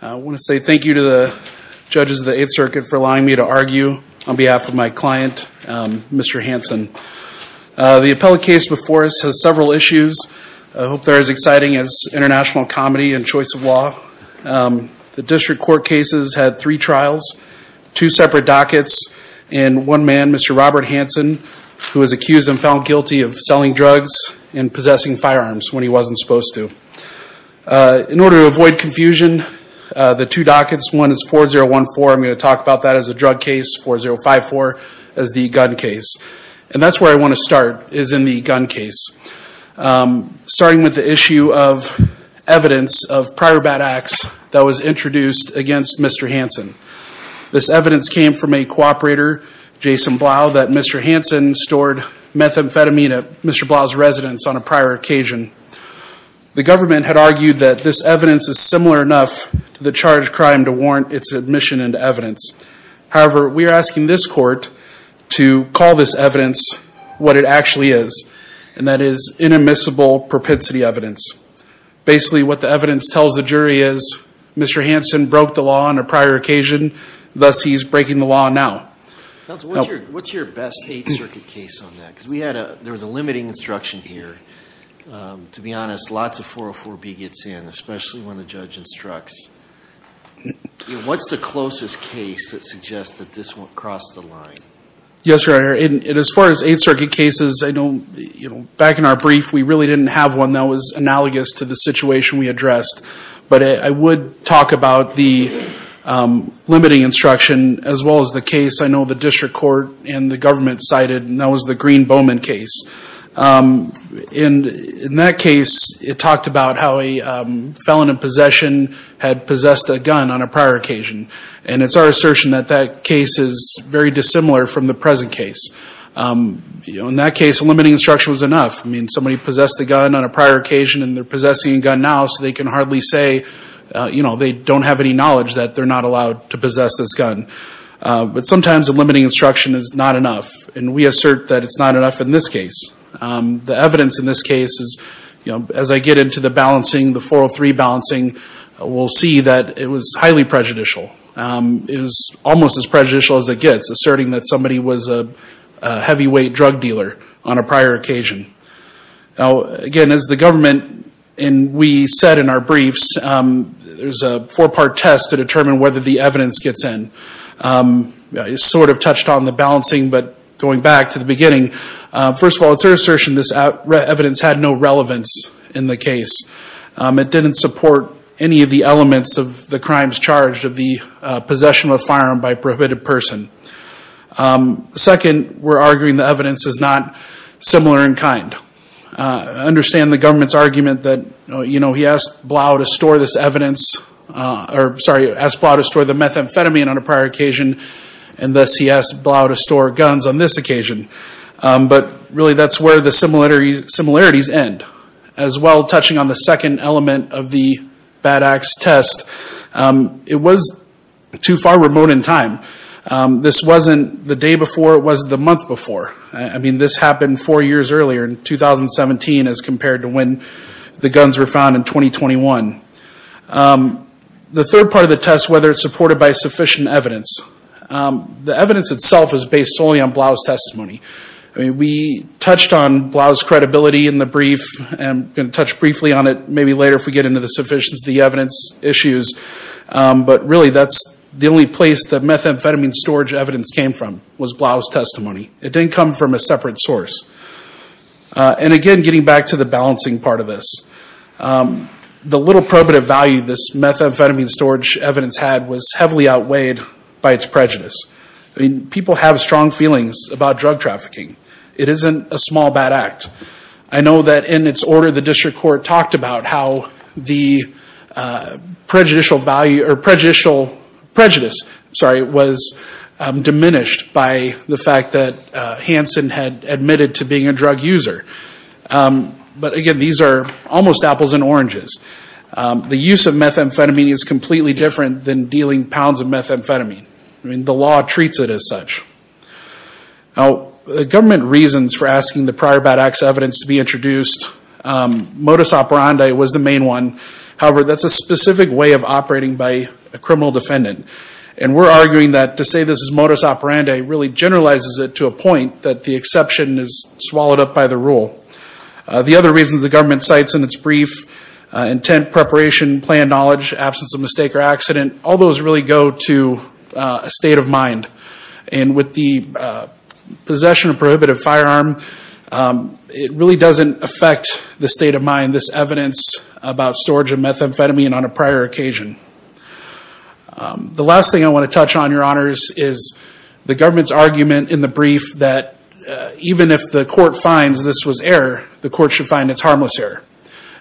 I want to say thank you to the judges of the Eighth Circuit for allowing me to argue on behalf of my client Mr. Hansen. The appellate case before us has several issues. I hope they're as exciting as international comedy and choice of law. The district court cases had three trials, two separate dockets, and one man Mr. Robert Hansen who was accused and found guilty of selling drugs and possessing firearms when he wasn't supposed to. In order to avoid confusion the two dockets, one is 4014, I'm going to talk about that as a drug case, 4054 as the gun case. And that's where I want to start is in the gun case. Starting with the issue of evidence of prior bad acts that was introduced against Mr. Hansen. This evidence came from a cooperator, Jason Blau, that Mr. Hansen stored methamphetamine at Mr. Blau's residence on a prior occasion. The charged crime to warrant its admission into evidence. However, we are asking this court to call this evidence what it actually is, and that is in admissible propensity evidence. Basically what the evidence tells the jury is Mr. Hansen broke the law on a prior occasion, thus he's breaking the law now. What's your best Eighth Circuit case on that? Because we had a, there was a limiting instruction here. To be What's the closest case that suggests that this won't cross the line? Yes, your honor. As far as Eighth Circuit cases, I don't, you know, back in our brief we really didn't have one that was analogous to the situation we addressed. But I would talk about the limiting instruction as well as the case I know the district court and the government cited, and that was the Green-Bowman case. In that case it talked about how a felon in possession had possessed a gun on a prior occasion, and it's our assertion that that case is very dissimilar from the present case. You know, in that case a limiting instruction was enough. I mean somebody possessed the gun on a prior occasion and they're possessing a gun now so they can hardly say, you know, they don't have any knowledge that they're not allowed to possess this gun. But sometimes a limiting instruction is not enough, and we assert that it's not enough in this case. The evidence in this case is, you know, as I get into the balancing, the 403 balancing, we'll see that it was highly prejudicial. It was almost as prejudicial as it gets, asserting that somebody was a heavyweight drug dealer on a prior occasion. Now again, as the government, and we said in our briefs, there's a four-part test to determine whether the evidence gets in. It sort of touched on the balancing, but going back to the beginning, first of all, it's our assertion this evidence had no relevance in the case. It didn't support any of the elements of the crimes charged of the possession of a firearm by a prohibited person. Second, we're arguing the evidence is not similar in kind. I understand the government's argument that, you know, he asked Blau to store this evidence, or sorry, asked Blau to store the methamphetamine on a prior occasion, and thus he asked Blau to store guns on this occasion. But really, that's where the similarities end. As well, touching on the second element of the Bad Axe test, it was too far remote in time. This wasn't the day before, it was the month before. I mean, this happened four years earlier in 2017 as compared to when the guns were found in 2021. The third part of the test, whether it's evidence itself is based solely on Blau's testimony. We touched on Blau's credibility in the brief, and I'm going to touch briefly on it maybe later if we get into the sufficiency of the evidence issues. But really, that's the only place the methamphetamine storage evidence came from, was Blau's testimony. It didn't come from a separate source. And again, getting back to the balancing part of this, the little probative value this methamphetamine storage evidence had was heavily outweighed by its prejudice. I mean, people have strong feelings about drug trafficking. It isn't a small bad act. I know that in its order, the district court talked about how the prejudicial value, or prejudicial prejudice, sorry, was diminished by the fact that Hansen had admitted to being a drug user. But again, these are almost apples and oranges. The use of pounds of methamphetamine. I mean, the law treats it as such. Now, the government reasons for asking the prior bad acts evidence to be introduced, modus operandi was the main one. However, that's a specific way of operating by a criminal defendant. And we're arguing that to say this is modus operandi really generalizes it to a point that the exception is swallowed up by the rule. The other reasons the government cites in its brief, intent, preparation, plan knowledge, absence of mistake or accident, all those really go to a state of mind. And with the possession of prohibitive firearm, it really doesn't affect the state of mind, this evidence about storage of methamphetamine on a prior occasion. The last thing I want to touch on, your honors, is the government's argument in the brief that even if the court finds this was error, the court should find it's harmless error.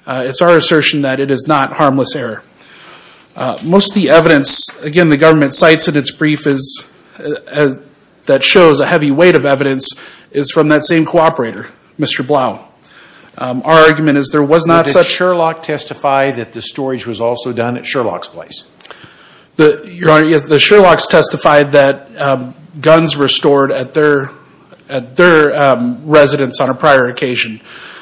It's our assertion that it is not harmless error. Most of the evidence, again, the government cites in its brief that shows a heavy weight of evidence is from that same cooperator, Mr. Blau. Our argument is there was not such... Did Sherlock testify that the storage was also done at Sherlock's place? Your honor, the Sherlocks testified that guns were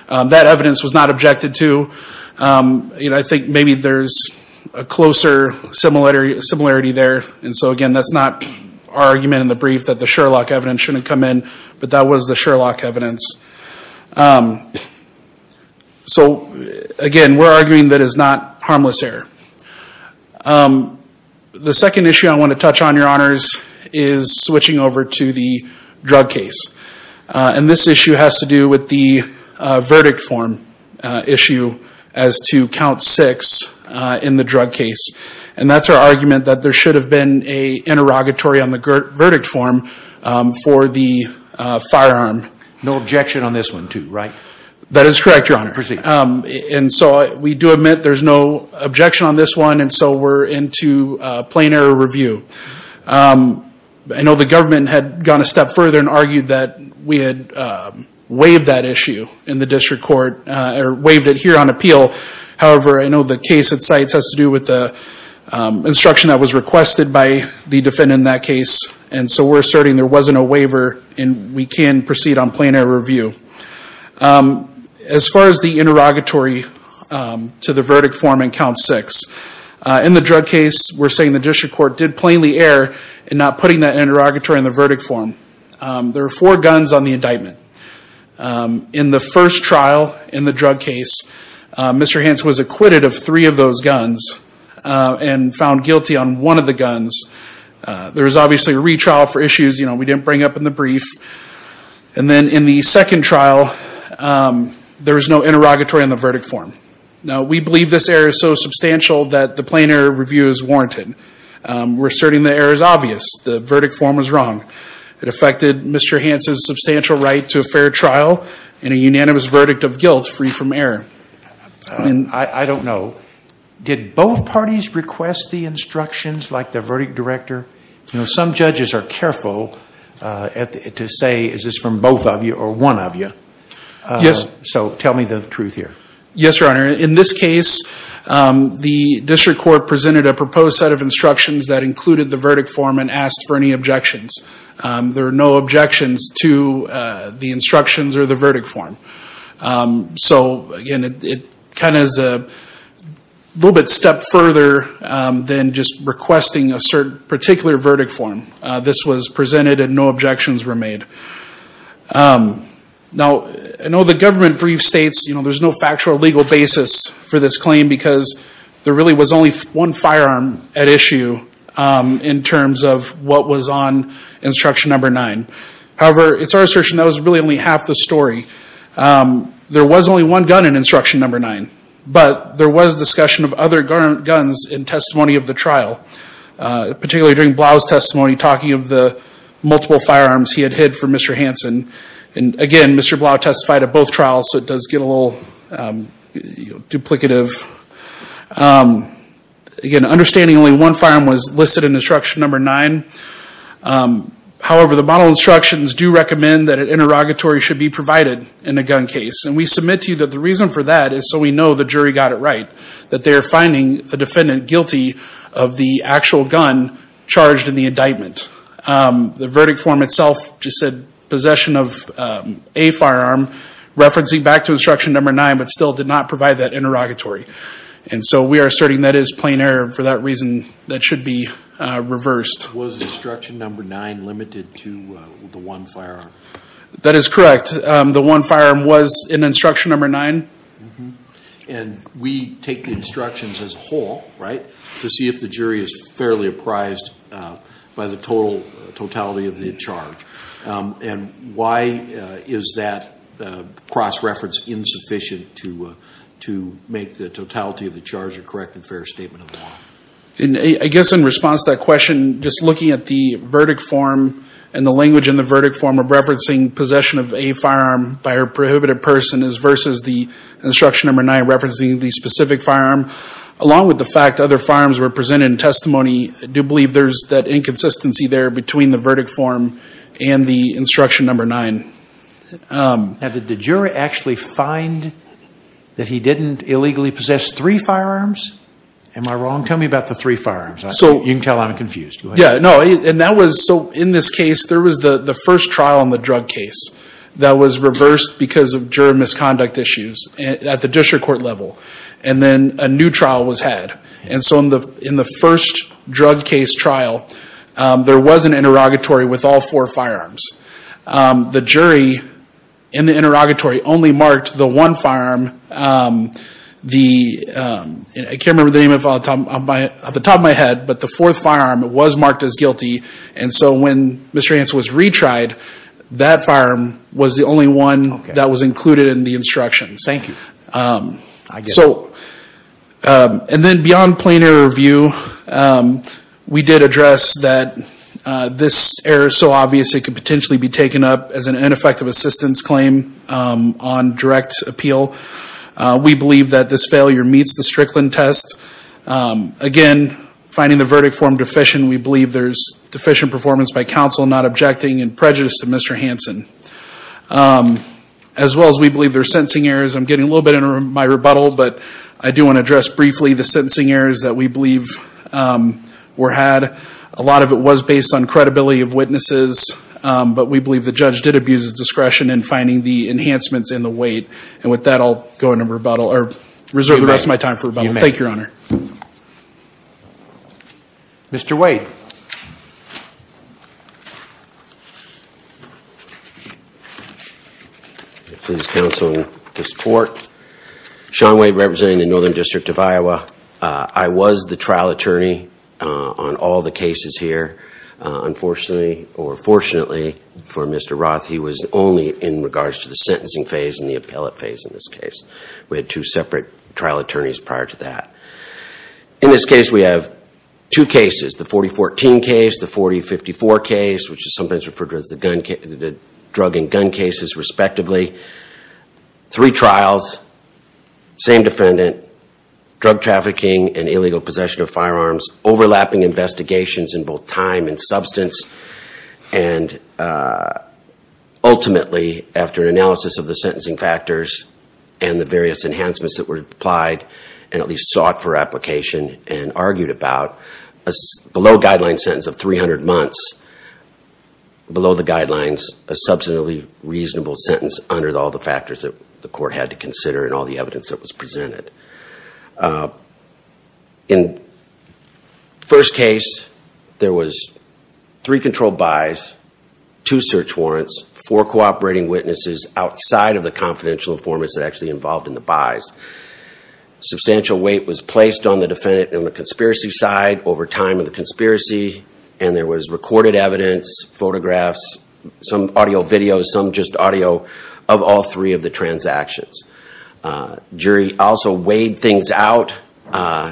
That evidence was not objected to. I think maybe there's a closer similarity there. And so again, that's not our argument in the brief that the Sherlock evidence shouldn't come in, but that was the Sherlock evidence. So again, we're arguing that it's not harmless error. The second issue I want to touch on, your honor, is the verdict form issue as to count six in the drug case. And that's our argument that there should have been an interrogatory on the verdict form for the firearm. No objection on this one, too, right? That is correct, your honor. And so we do admit there's no objection on this one, and so we're into plain error review. I know the government had gone a step further and in the district court, or waived it here on appeal. However, I know the case it cites has to do with the instruction that was requested by the defendant in that case, and so we're asserting there wasn't a waiver and we can proceed on plain error review. As far as the interrogatory to the verdict form in count six, in the drug case we're saying the district court did plainly err in not putting that interrogatory in the verdict form. There are four guns on the case. In the first trial in the drug case, Mr. Hance was acquitted of three of those guns and found guilty on one of the guns. There was obviously a retrial for issues, you know, we didn't bring up in the brief. And then in the second trial there was no interrogatory on the verdict form. Now we believe this error is so substantial that the plain error review is warranted. We're asserting the error is obvious. The verdict form was wrong. It affected Mr. Hance's fair trial and a unanimous verdict of guilt free from error. And I don't know, did both parties request the instructions like the verdict director? You know, some judges are careful to say, is this from both of you or one of you? Yes. So tell me the truth here. Yes, Your Honor. In this case, the district court presented a proposed set of instructions that included the verdict form and asked for any objections. There are no objections to the instructions or the verdict form. So again, it kind of is a little bit step further than just requesting a certain particular verdict form. This was presented and no objections were made. Now, I know the government brief states, you know, there's no factual legal basis for this claim because there really was only one firearm at issue in terms of what was on instruction number nine. However, it's our assertion that was really only half the story. There was only one gun in instruction number nine, but there was discussion of other guns in testimony of the trial, particularly during Blau's testimony talking of the multiple firearms he had hid for Mr. Hance. And again, Mr. Blau testified at both trials, so it does get a little duplicative. Again, understanding only one firearm was listed in instruction number nine. However, the model instructions do recommend that an interrogatory should be provided in a gun case. And we submit to you that the reason for that is so we know the jury got it right, that they are finding a defendant guilty of the actual gun charged in the indictment. The instruction number nine but still did not provide that interrogatory. And so we are asserting that is plain error for that reason that should be reversed. Was instruction number nine limited to the one firearm? That is correct. The one firearm was in instruction number nine. And we take the instructions as whole, right, to see if the jury is fairly apprised by the total totality of the charge. And why is that cross-reference insufficient to make the totality of the charge a correct and fair statement of law? I guess in response to that question, just looking at the verdict form and the language in the verdict form of referencing possession of a firearm by a prohibited person is versus the instruction number nine referencing the specific firearm. Along with the fact other firearms were presented in testimony, I do believe there's that inconsistency there between the verdict form and the instruction number nine. Now did the jury actually find that he didn't illegally possess three firearms? Am I wrong? Tell me about the three firearms. So you can tell I'm confused. Yeah, no, and that was so in this case there was the the first trial in the drug case that was reversed because of juror misconduct issues at the district court level. And then a new trial was had. And so in the in the first drug case trial, there was an interrogatory with all four firearms. The jury in the interrogatory only marked the one firearm. I can't remember the name of it off the top of my head, but the fourth firearm was marked as guilty. And so when Mr. Hansen was retried, that firearm was the only one that was included in the instructions. Thank you. So and then beyond plain error review, we did address that this error is so obvious it could potentially be taken up as an ineffective assistance claim on direct appeal. We believe that this failure meets the Strickland test. Again, finding the verdict form deficient, we believe there's deficient performance by counsel not objecting and prejudice to Mr. Hansen. As well as we believe there are sentencing errors. I'm getting a little bit in my rebuttal, but I do want to address briefly the sentencing errors that we believe were had. A lot of it was based on credibility of witnesses, but we believe the judge did abuse his discretion in finding the enhancements in the weight. And with that, I'll go into rebuttal or reserve the rest of my time for rebuttal. Thank you, Your Honor. Mr. Wade, please counsel to support. Sean Wade representing the Northern District of Iowa. I was the trial attorney on all the cases here. Unfortunately or fortunately for Mr. Roth, he was only in regards to the sentencing phase and the appellate phase in this case. We had two separate trial attorneys prior to that. In this case, we have two cases. The 4014 case, the 4054 case, which is sometimes referred to as the drug and gun cases, respectively. Three trials, same defendant, drug trafficking and illegal possession of firearms, overlapping investigations in both time and substance. And ultimately, after analysis of the sentencing factors and the and at least sought for application and argued about, a below-guideline sentence of 300 months. Below the guidelines, a substantially reasonable sentence under all the factors that the court had to consider and all the evidence that was presented. In the first case, there was three controlled buys, two search warrants, four cooperating witnesses outside of the confidential informants that actually involved in the buys. Substantial weight was placed on the defendant on the conspiracy side over time of the conspiracy and there was recorded evidence, photographs, some audio videos, some just audio of all three of the transactions. Jury also weighed things out,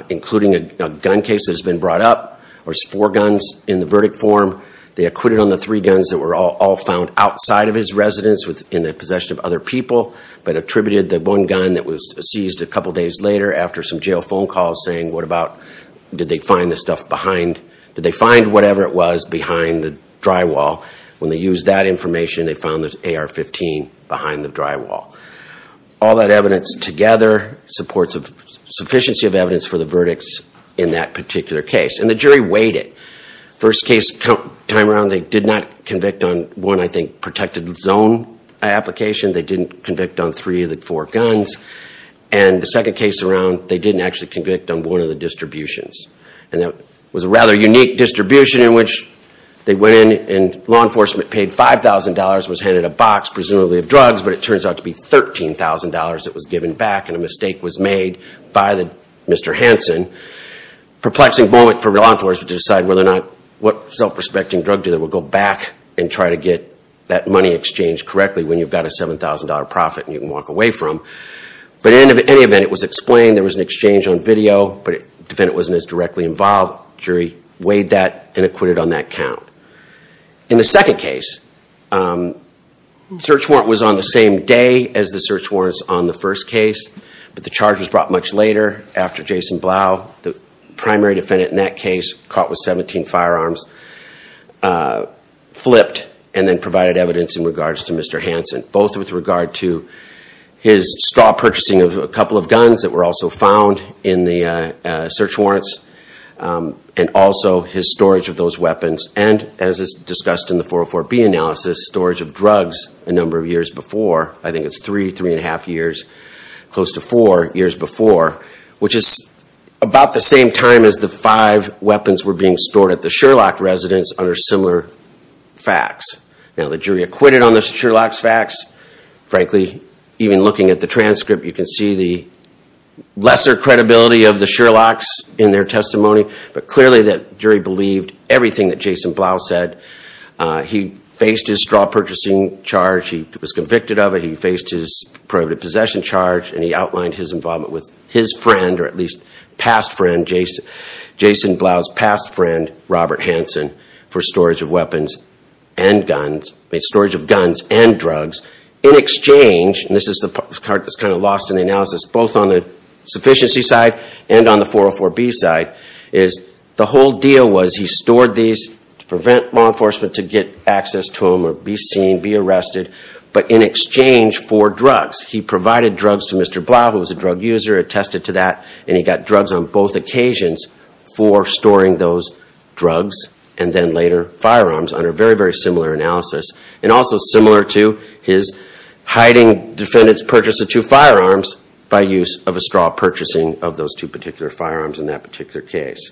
including a gun case that has been brought up. There's four guns in the verdict form. They acquitted on the three guns that were all found outside of his residence within the possession of other people, but attributed the one gun that was seized a couple days later after some jail phone calls saying, what about, did they find the stuff behind, did they find whatever it was behind the drywall? When they used that information, they found the AR-15 behind the drywall. All that evidence together supports sufficiency of evidence for the verdicts in that particular case. And the jury weighed it. First case time around, they did not convict on one, I think, protected zone application. They didn't convict on three of the four guns. And the second case around, they didn't actually convict on one of the distributions. And that was a rather unique distribution in which they went in and law enforcement paid $5,000, was handed a box, presumably of drugs, but it turns out to be $13,000 that was given back and a mistake was made by Mr. Hansen. Perplexing moment for law enforcement to decide whether or not, what money exchanged correctly when you've got a $7,000 profit and you can walk away from. But in any event, it was explained, there was an exchange on video, but defendant wasn't as directly involved. Jury weighed that and acquitted on that count. In the second case, search warrant was on the same day as the search warrants on the first case, but the charge was brought much later after Jason Blau, the primary defendant in that case, caught with 17 firearms, flipped and then was sentenced in regards to Mr. Hansen, both with regard to his straw purchasing of a couple of guns that were also found in the search warrants and also his storage of those weapons. And as is discussed in the 404B analysis, storage of drugs a number of years before, I think it's three, three and a half years, close to four years before, which is about the same time as the five weapons were being stored at the Sherlock residence under similar facts. Now the jury acquitted on the Sherlock's facts. Frankly, even looking at the transcript, you can see the lesser credibility of the Sherlock's in their testimony, but clearly that jury believed everything that Jason Blau said. He faced his straw purchasing charge, he was convicted of it, he faced his prohibitive possession charge, and he outlined his involvement with his friend, or at least past friend, Jason Blau's past friend, Robert Hansen, for storage of weapons and storage of guns and drugs in exchange, and this is the part that's kind of lost in the analysis, both on the sufficiency side and on the 404B side, is the whole deal was he stored these to prevent law enforcement to get access to them or be seen, be arrested, but in exchange for drugs. He provided drugs to Mr. Blau, who was a drug user, attested to that, and he got drugs on both occasions for storing those drugs and then later firearms under very, very similar analysis, and also similar to his hiding defendant's purchase of two firearms by use of a straw purchasing of those two particular firearms in that particular case.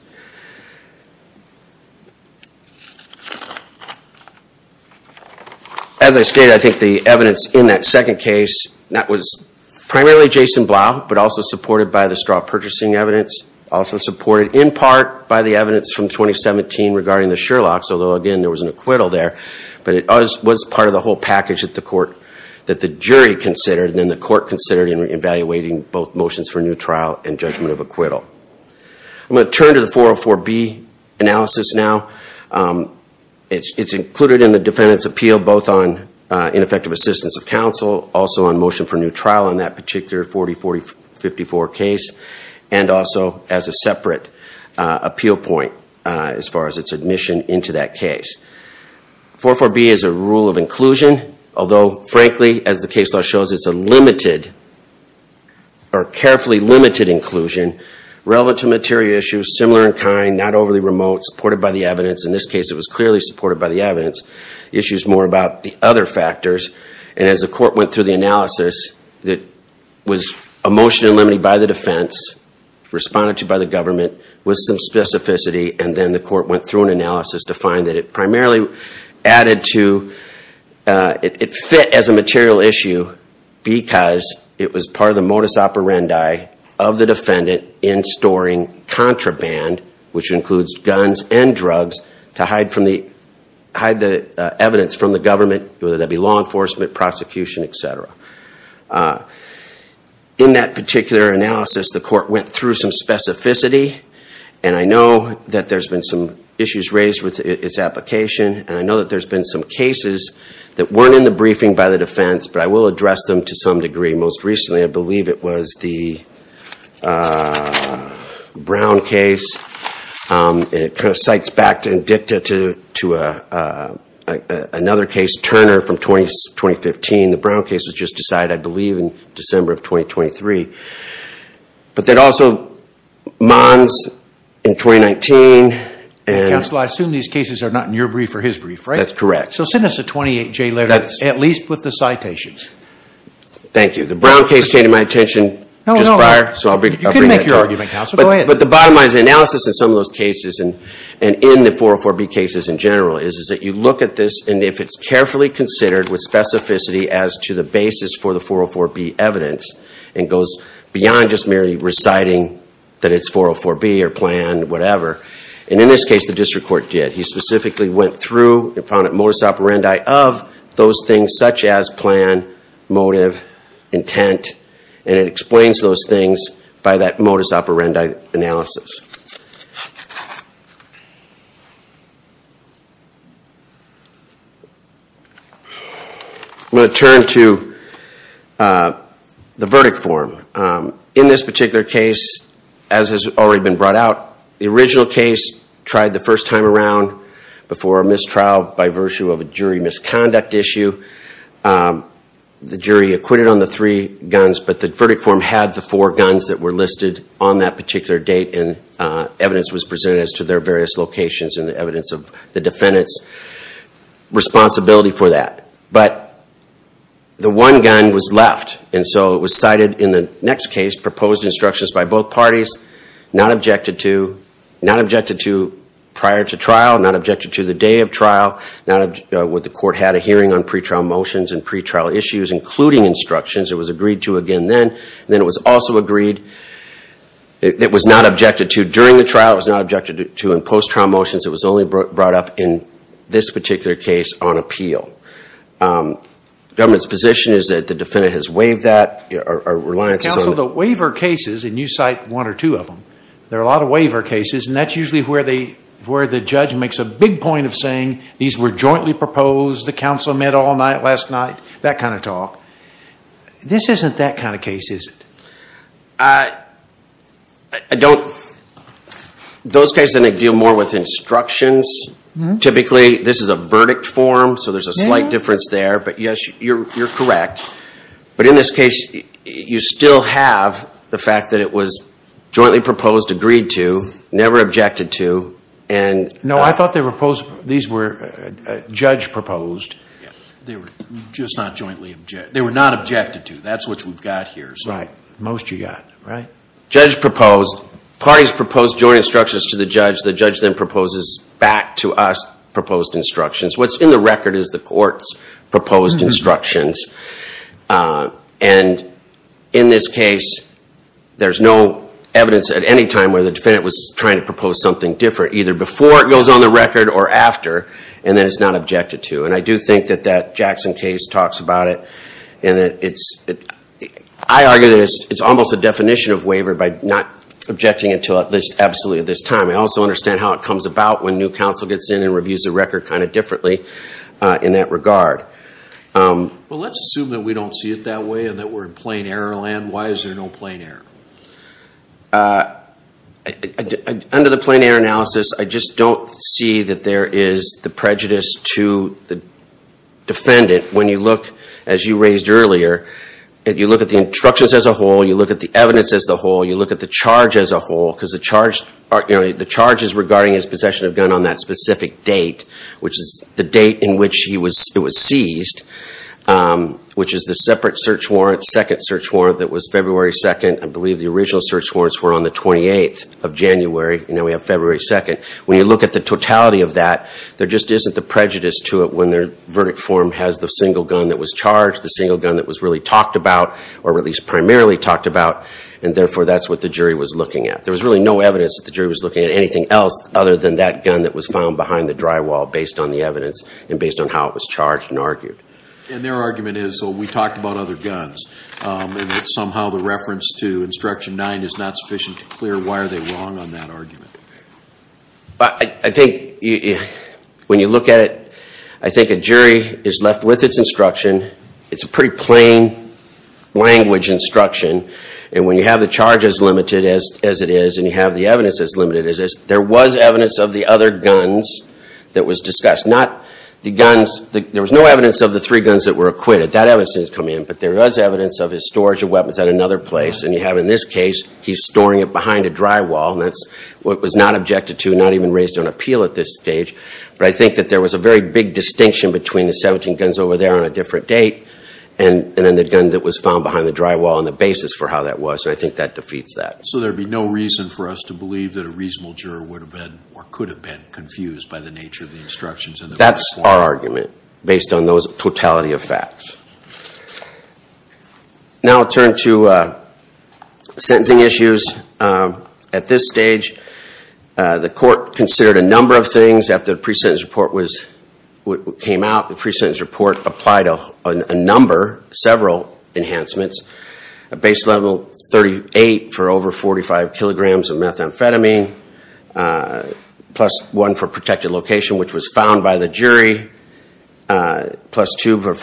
As I stated, I think the evidence in that second case, that was primarily Jason Blau, but also supported by the straw purchasing evidence, also supported in the evidence from 2017 regarding the Sherlock's, although again, there was an acquittal there, but it was part of the whole package that the court, that the jury considered, and then the court considered in evaluating both motions for new trial and judgment of acquittal. I'm going to turn to the 404B analysis now. It's included in the defendant's appeal, both on ineffective assistance of counsel, also on motion for new trial on that particular 4044 case, and also as a point, as far as its admission into that case. 404B is a rule of inclusion, although frankly, as the case law shows, it's a limited, or carefully limited inclusion, relevant to material issues, similar in kind, not overly remote, supported by the evidence. In this case, it was clearly supported by the evidence. The issue is more about the other factors, and as the court went through the analysis, it was a motion eliminated by the defense, responded to by the specificity, and then the court went through an analysis to find that it primarily added to, it fit as a material issue because it was part of the modus operandi of the defendant in storing contraband, which includes guns and drugs, to hide the evidence from the government, whether that be law enforcement, prosecution, etc. In that particular analysis, the court went through some specificity, and I know that there's been some issues raised with its application, and I know that there's been some cases that weren't in the briefing by the defense, but I will address them to some degree. Most recently, I believe it was the Brown case, and it kind of cites back to indicative to another case, Turner from 2015. The Brown case was just decided, I believe, in December of 2023, but there's also Mons in 2019, and... Counsel, I assume these cases are not in your brief or his brief, right? That's correct. So send us a 28-J letter, at least with the citations. Thank you. The Brown case changed my attention just prior, so I'll bring that to you. You can make your argument, Counsel, go ahead. But the bottom line is the analysis in some of those cases, and in the 404B cases in general, is that you look at this, and if it's carefully considered with the 404B evidence, it goes beyond just merely reciting that it's 404B or planned, whatever. And in this case, the district court did. He specifically went through and found a modus operandi of those things, such as plan, motive, intent, and it explains those things by that modus operandi analysis. I'm going to turn to the verdict form. In this particular case, as has already been brought out, the original case tried the first time around before a mistrial by virtue of a jury misconduct issue. The jury acquitted on the three guns, but the evidence was presented as to their various locations and the evidence of the defendant's responsibility for that. But the one gun was left, and so it was cited in the next case, proposed instructions by both parties, not objected to prior to trial, not objected to the day of trial. The court had a hearing on pre-trial motions and pre-trial issues, including instructions. It was agreed to again then. It was also agreed, it was not objected to during the trial, it was not objected to in post-trial motions. It was only brought up in this particular case on appeal. Government's position is that the defendant has waived that, or reliances on it. Counsel, the waiver cases, and you cite one or two of them, there are a lot of waiver cases, and that's usually where the judge makes a big point of saying, these were jointly proposed, the counsel met all night last night, that kind of talk. This isn't that kind of case, is it? I don't, those cases I think deal more with instructions. Typically, this is a verdict form, so there's a slight difference there, but yes, you're correct. But in this case, you still have the fact that it was jointly proposed, agreed to, never objected to, and... No, I thought they were proposed, these were judge proposed. They were just not jointly objected, they were not objected to, that's what we've got here. Right, most you got, right? Judge proposed, parties proposed joint instructions to the judge, the judge then proposes back to us proposed instructions. What's in the record is the court's proposed instructions, and in this case, there's no evidence at any time where the defendant was trying to propose something different, either before it goes on the record or after, and then it's not objected to. And I do think that that Jackson case talks about it, and that it's, I argue that it's almost a definition of waiver by not objecting until at least absolutely at this time. I also understand how it comes about when new counsel gets in and reviews the record kind of differently in that regard. Well, let's assume that we don't see it that way, and that we're in plain error land. Why is there no plain error? Under the plain error analysis, I just don't see that there is the prejudice to the defendant when you look, as you raised earlier, and you look at the instructions as a whole, you look at the evidence as the whole, you look at the charge as a whole, because the charge, you know, the charges regarding his possession of gun on that specific date, which is the date in which he was, it was seized, which is the separate search warrant, second search warrant that was February 2nd. I believe the original search warrants were on the 28th of January, and now we have February 2nd. When you look at the totality of that, there just isn't the prejudice to it when the verdict form has the single gun that was charged, the single gun that was really talked about, or at least primarily talked about, and therefore that's what the jury was looking at. There was really no evidence that the jury was looking at anything else other than that gun that was found behind the drywall based on the evidence, and based on how it was charged and argued. And their argument is, so we talked about other guns, and that somehow the reference to Instruction 9 is not sufficient to clear why are they wrong on that argument? I think when you look at it, I think a jury is left with its instruction. It's a pretty plain language instruction, and when you have the charge as limited as it is, and you have the evidence as limited as it is, there was evidence of the other guns that was discussed. Not the guns, there was no evidence of the three guns that were acquitted. That evidence didn't come in, but there was evidence of his storage of weapons at another place, and you have in this case, he's storing it behind a drywall, and that's what was not objected to, not even raised on appeal at this stage, but I think that there was a very big distinction between the 17 guns over there on a different date, and then the gun that was found behind the drywall and the basis for how that was, and I think that defeats that. So there'd be no reason for us to believe that a reasonable juror would have been, or could have been, confused by the nature of the instructions in the first place? That's our argument, based on those totality of facts. Now I'll turn to sentencing issues. At this stage, the court considered a number of things after the pre-sentence report came out. The pre-sentence report applied a number, several enhancements, a base level 38 for over 45 kilograms of methamphetamine, plus one for protected location, which was also found by the jury, plus three for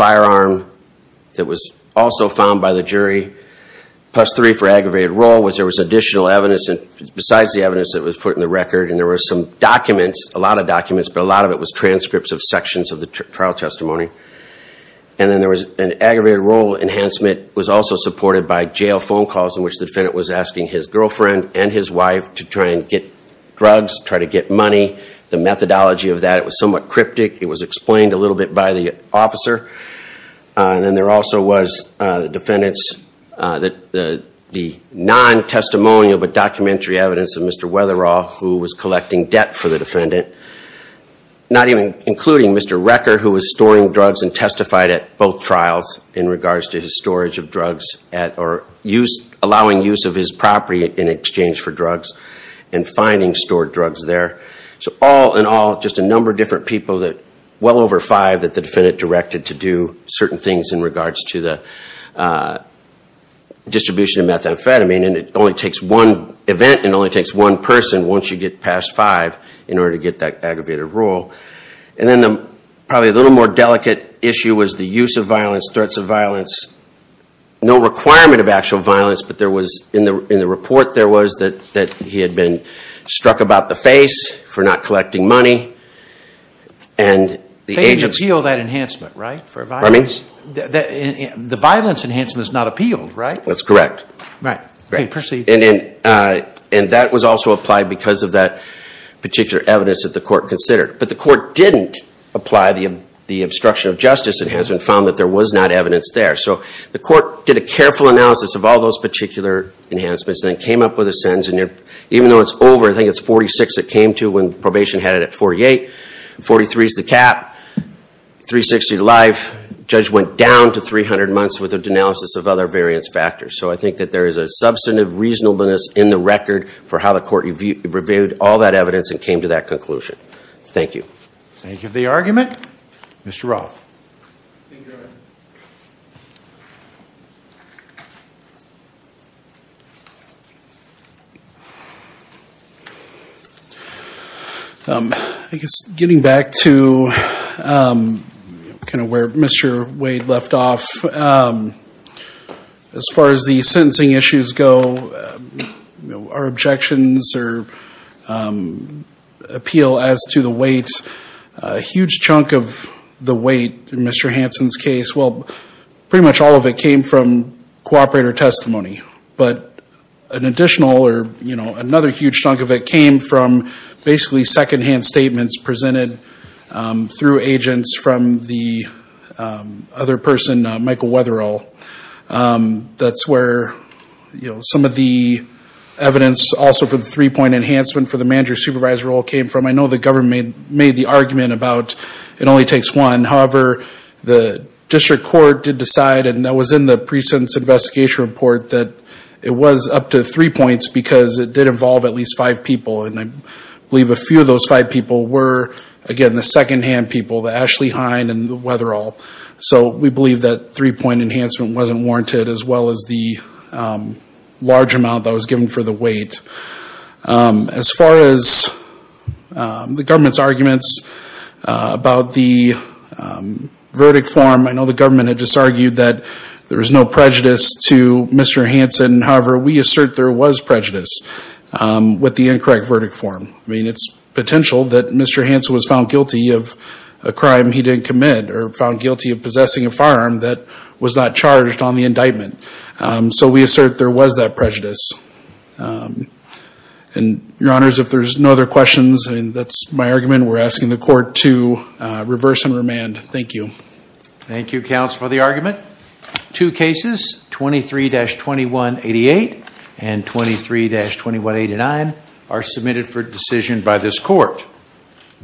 aggravated role, which there was additional evidence, besides the evidence that was put in the record, and there were some documents, a lot of documents, but a lot of it was transcripts of sections of the trial testimony. And then there was an aggravated role enhancement, was also supported by jail phone calls in which the defendant was asking his girlfriend and his wife to try and get drugs, try to get money. The methodology of that, it was somewhat the officer. And then there also was the defendants, the non-testimonial but documentary evidence of Mr. Weatherall, who was collecting debt for the defendant, not even including Mr. Recker, who was storing drugs and testified at both trials in regards to his storage of drugs, or allowing use of his property in exchange for drugs, and finding stored drugs there. So all in all, just a number of different people that, well over five that the defendant directed to do certain things in regards to the distribution of methamphetamine, and it only takes one event, and only takes one person, once you get past five, in order to get that aggravated role. And then probably a little more delicate issue was the use of violence, threats of violence. No requirement of actual violence, but there was, in the report there was, that he had been struck about the violence enhancement is not appealed, right? That's correct. And that was also applied because of that particular evidence that the court considered. But the court didn't apply the obstruction of justice enhancement, found that there was not evidence there. So the court did a careful analysis of all those particular enhancements, then came up with a sentence, and even though it's over, I think it's 46 it came to when probation had it at 48, 43 is the cap, 360 life, judge went down to 300 months with a denalysis of other variance factors. So I think that there is a substantive reasonableness in the record for how the court reviewed all that evidence and came to that conclusion. Thank you. Thank you for the argument. Mr. Roth. Thank you, Your Honor. I guess getting back to kind of where Mr. Wade left off, as far as the huge chunk of the weight in Mr. Hansen's case, well, pretty much all of it came from cooperator testimony. But an additional or, you know, another huge chunk of it came from basically secondhand statements presented through agents from the other person, Michael Weatherill. That's where, you know, some of the evidence also for the three-point enhancement for the manager supervisor role came from. I know the government made the argument about it only takes one. However, the district court did decide, and that was in the precinct's investigation report, that it was up to three points because it did involve at least five people. And I believe a few of those five people were, again, the secondhand people, the Ashley Hine and the Weatherill. So we believe that three-point enhancement wasn't warranted, as well as the large amount that was given for the weight. As far as the government's arguments about the verdict form, I know the government had just argued that there was no prejudice to Mr. Hansen. However, we assert there was prejudice with the incorrect verdict form. I mean, it's potential that Mr. Hansen was found guilty of a crime he didn't commit or found guilty of possessing a firearm that was not prejudice. And your honors, if there's no other questions, and that's my argument, we're asking the court to reverse and remand. Thank you. Thank you, counsel, for the argument. Two cases, 23-2188 and 23-2189, are submitted for decision by this court.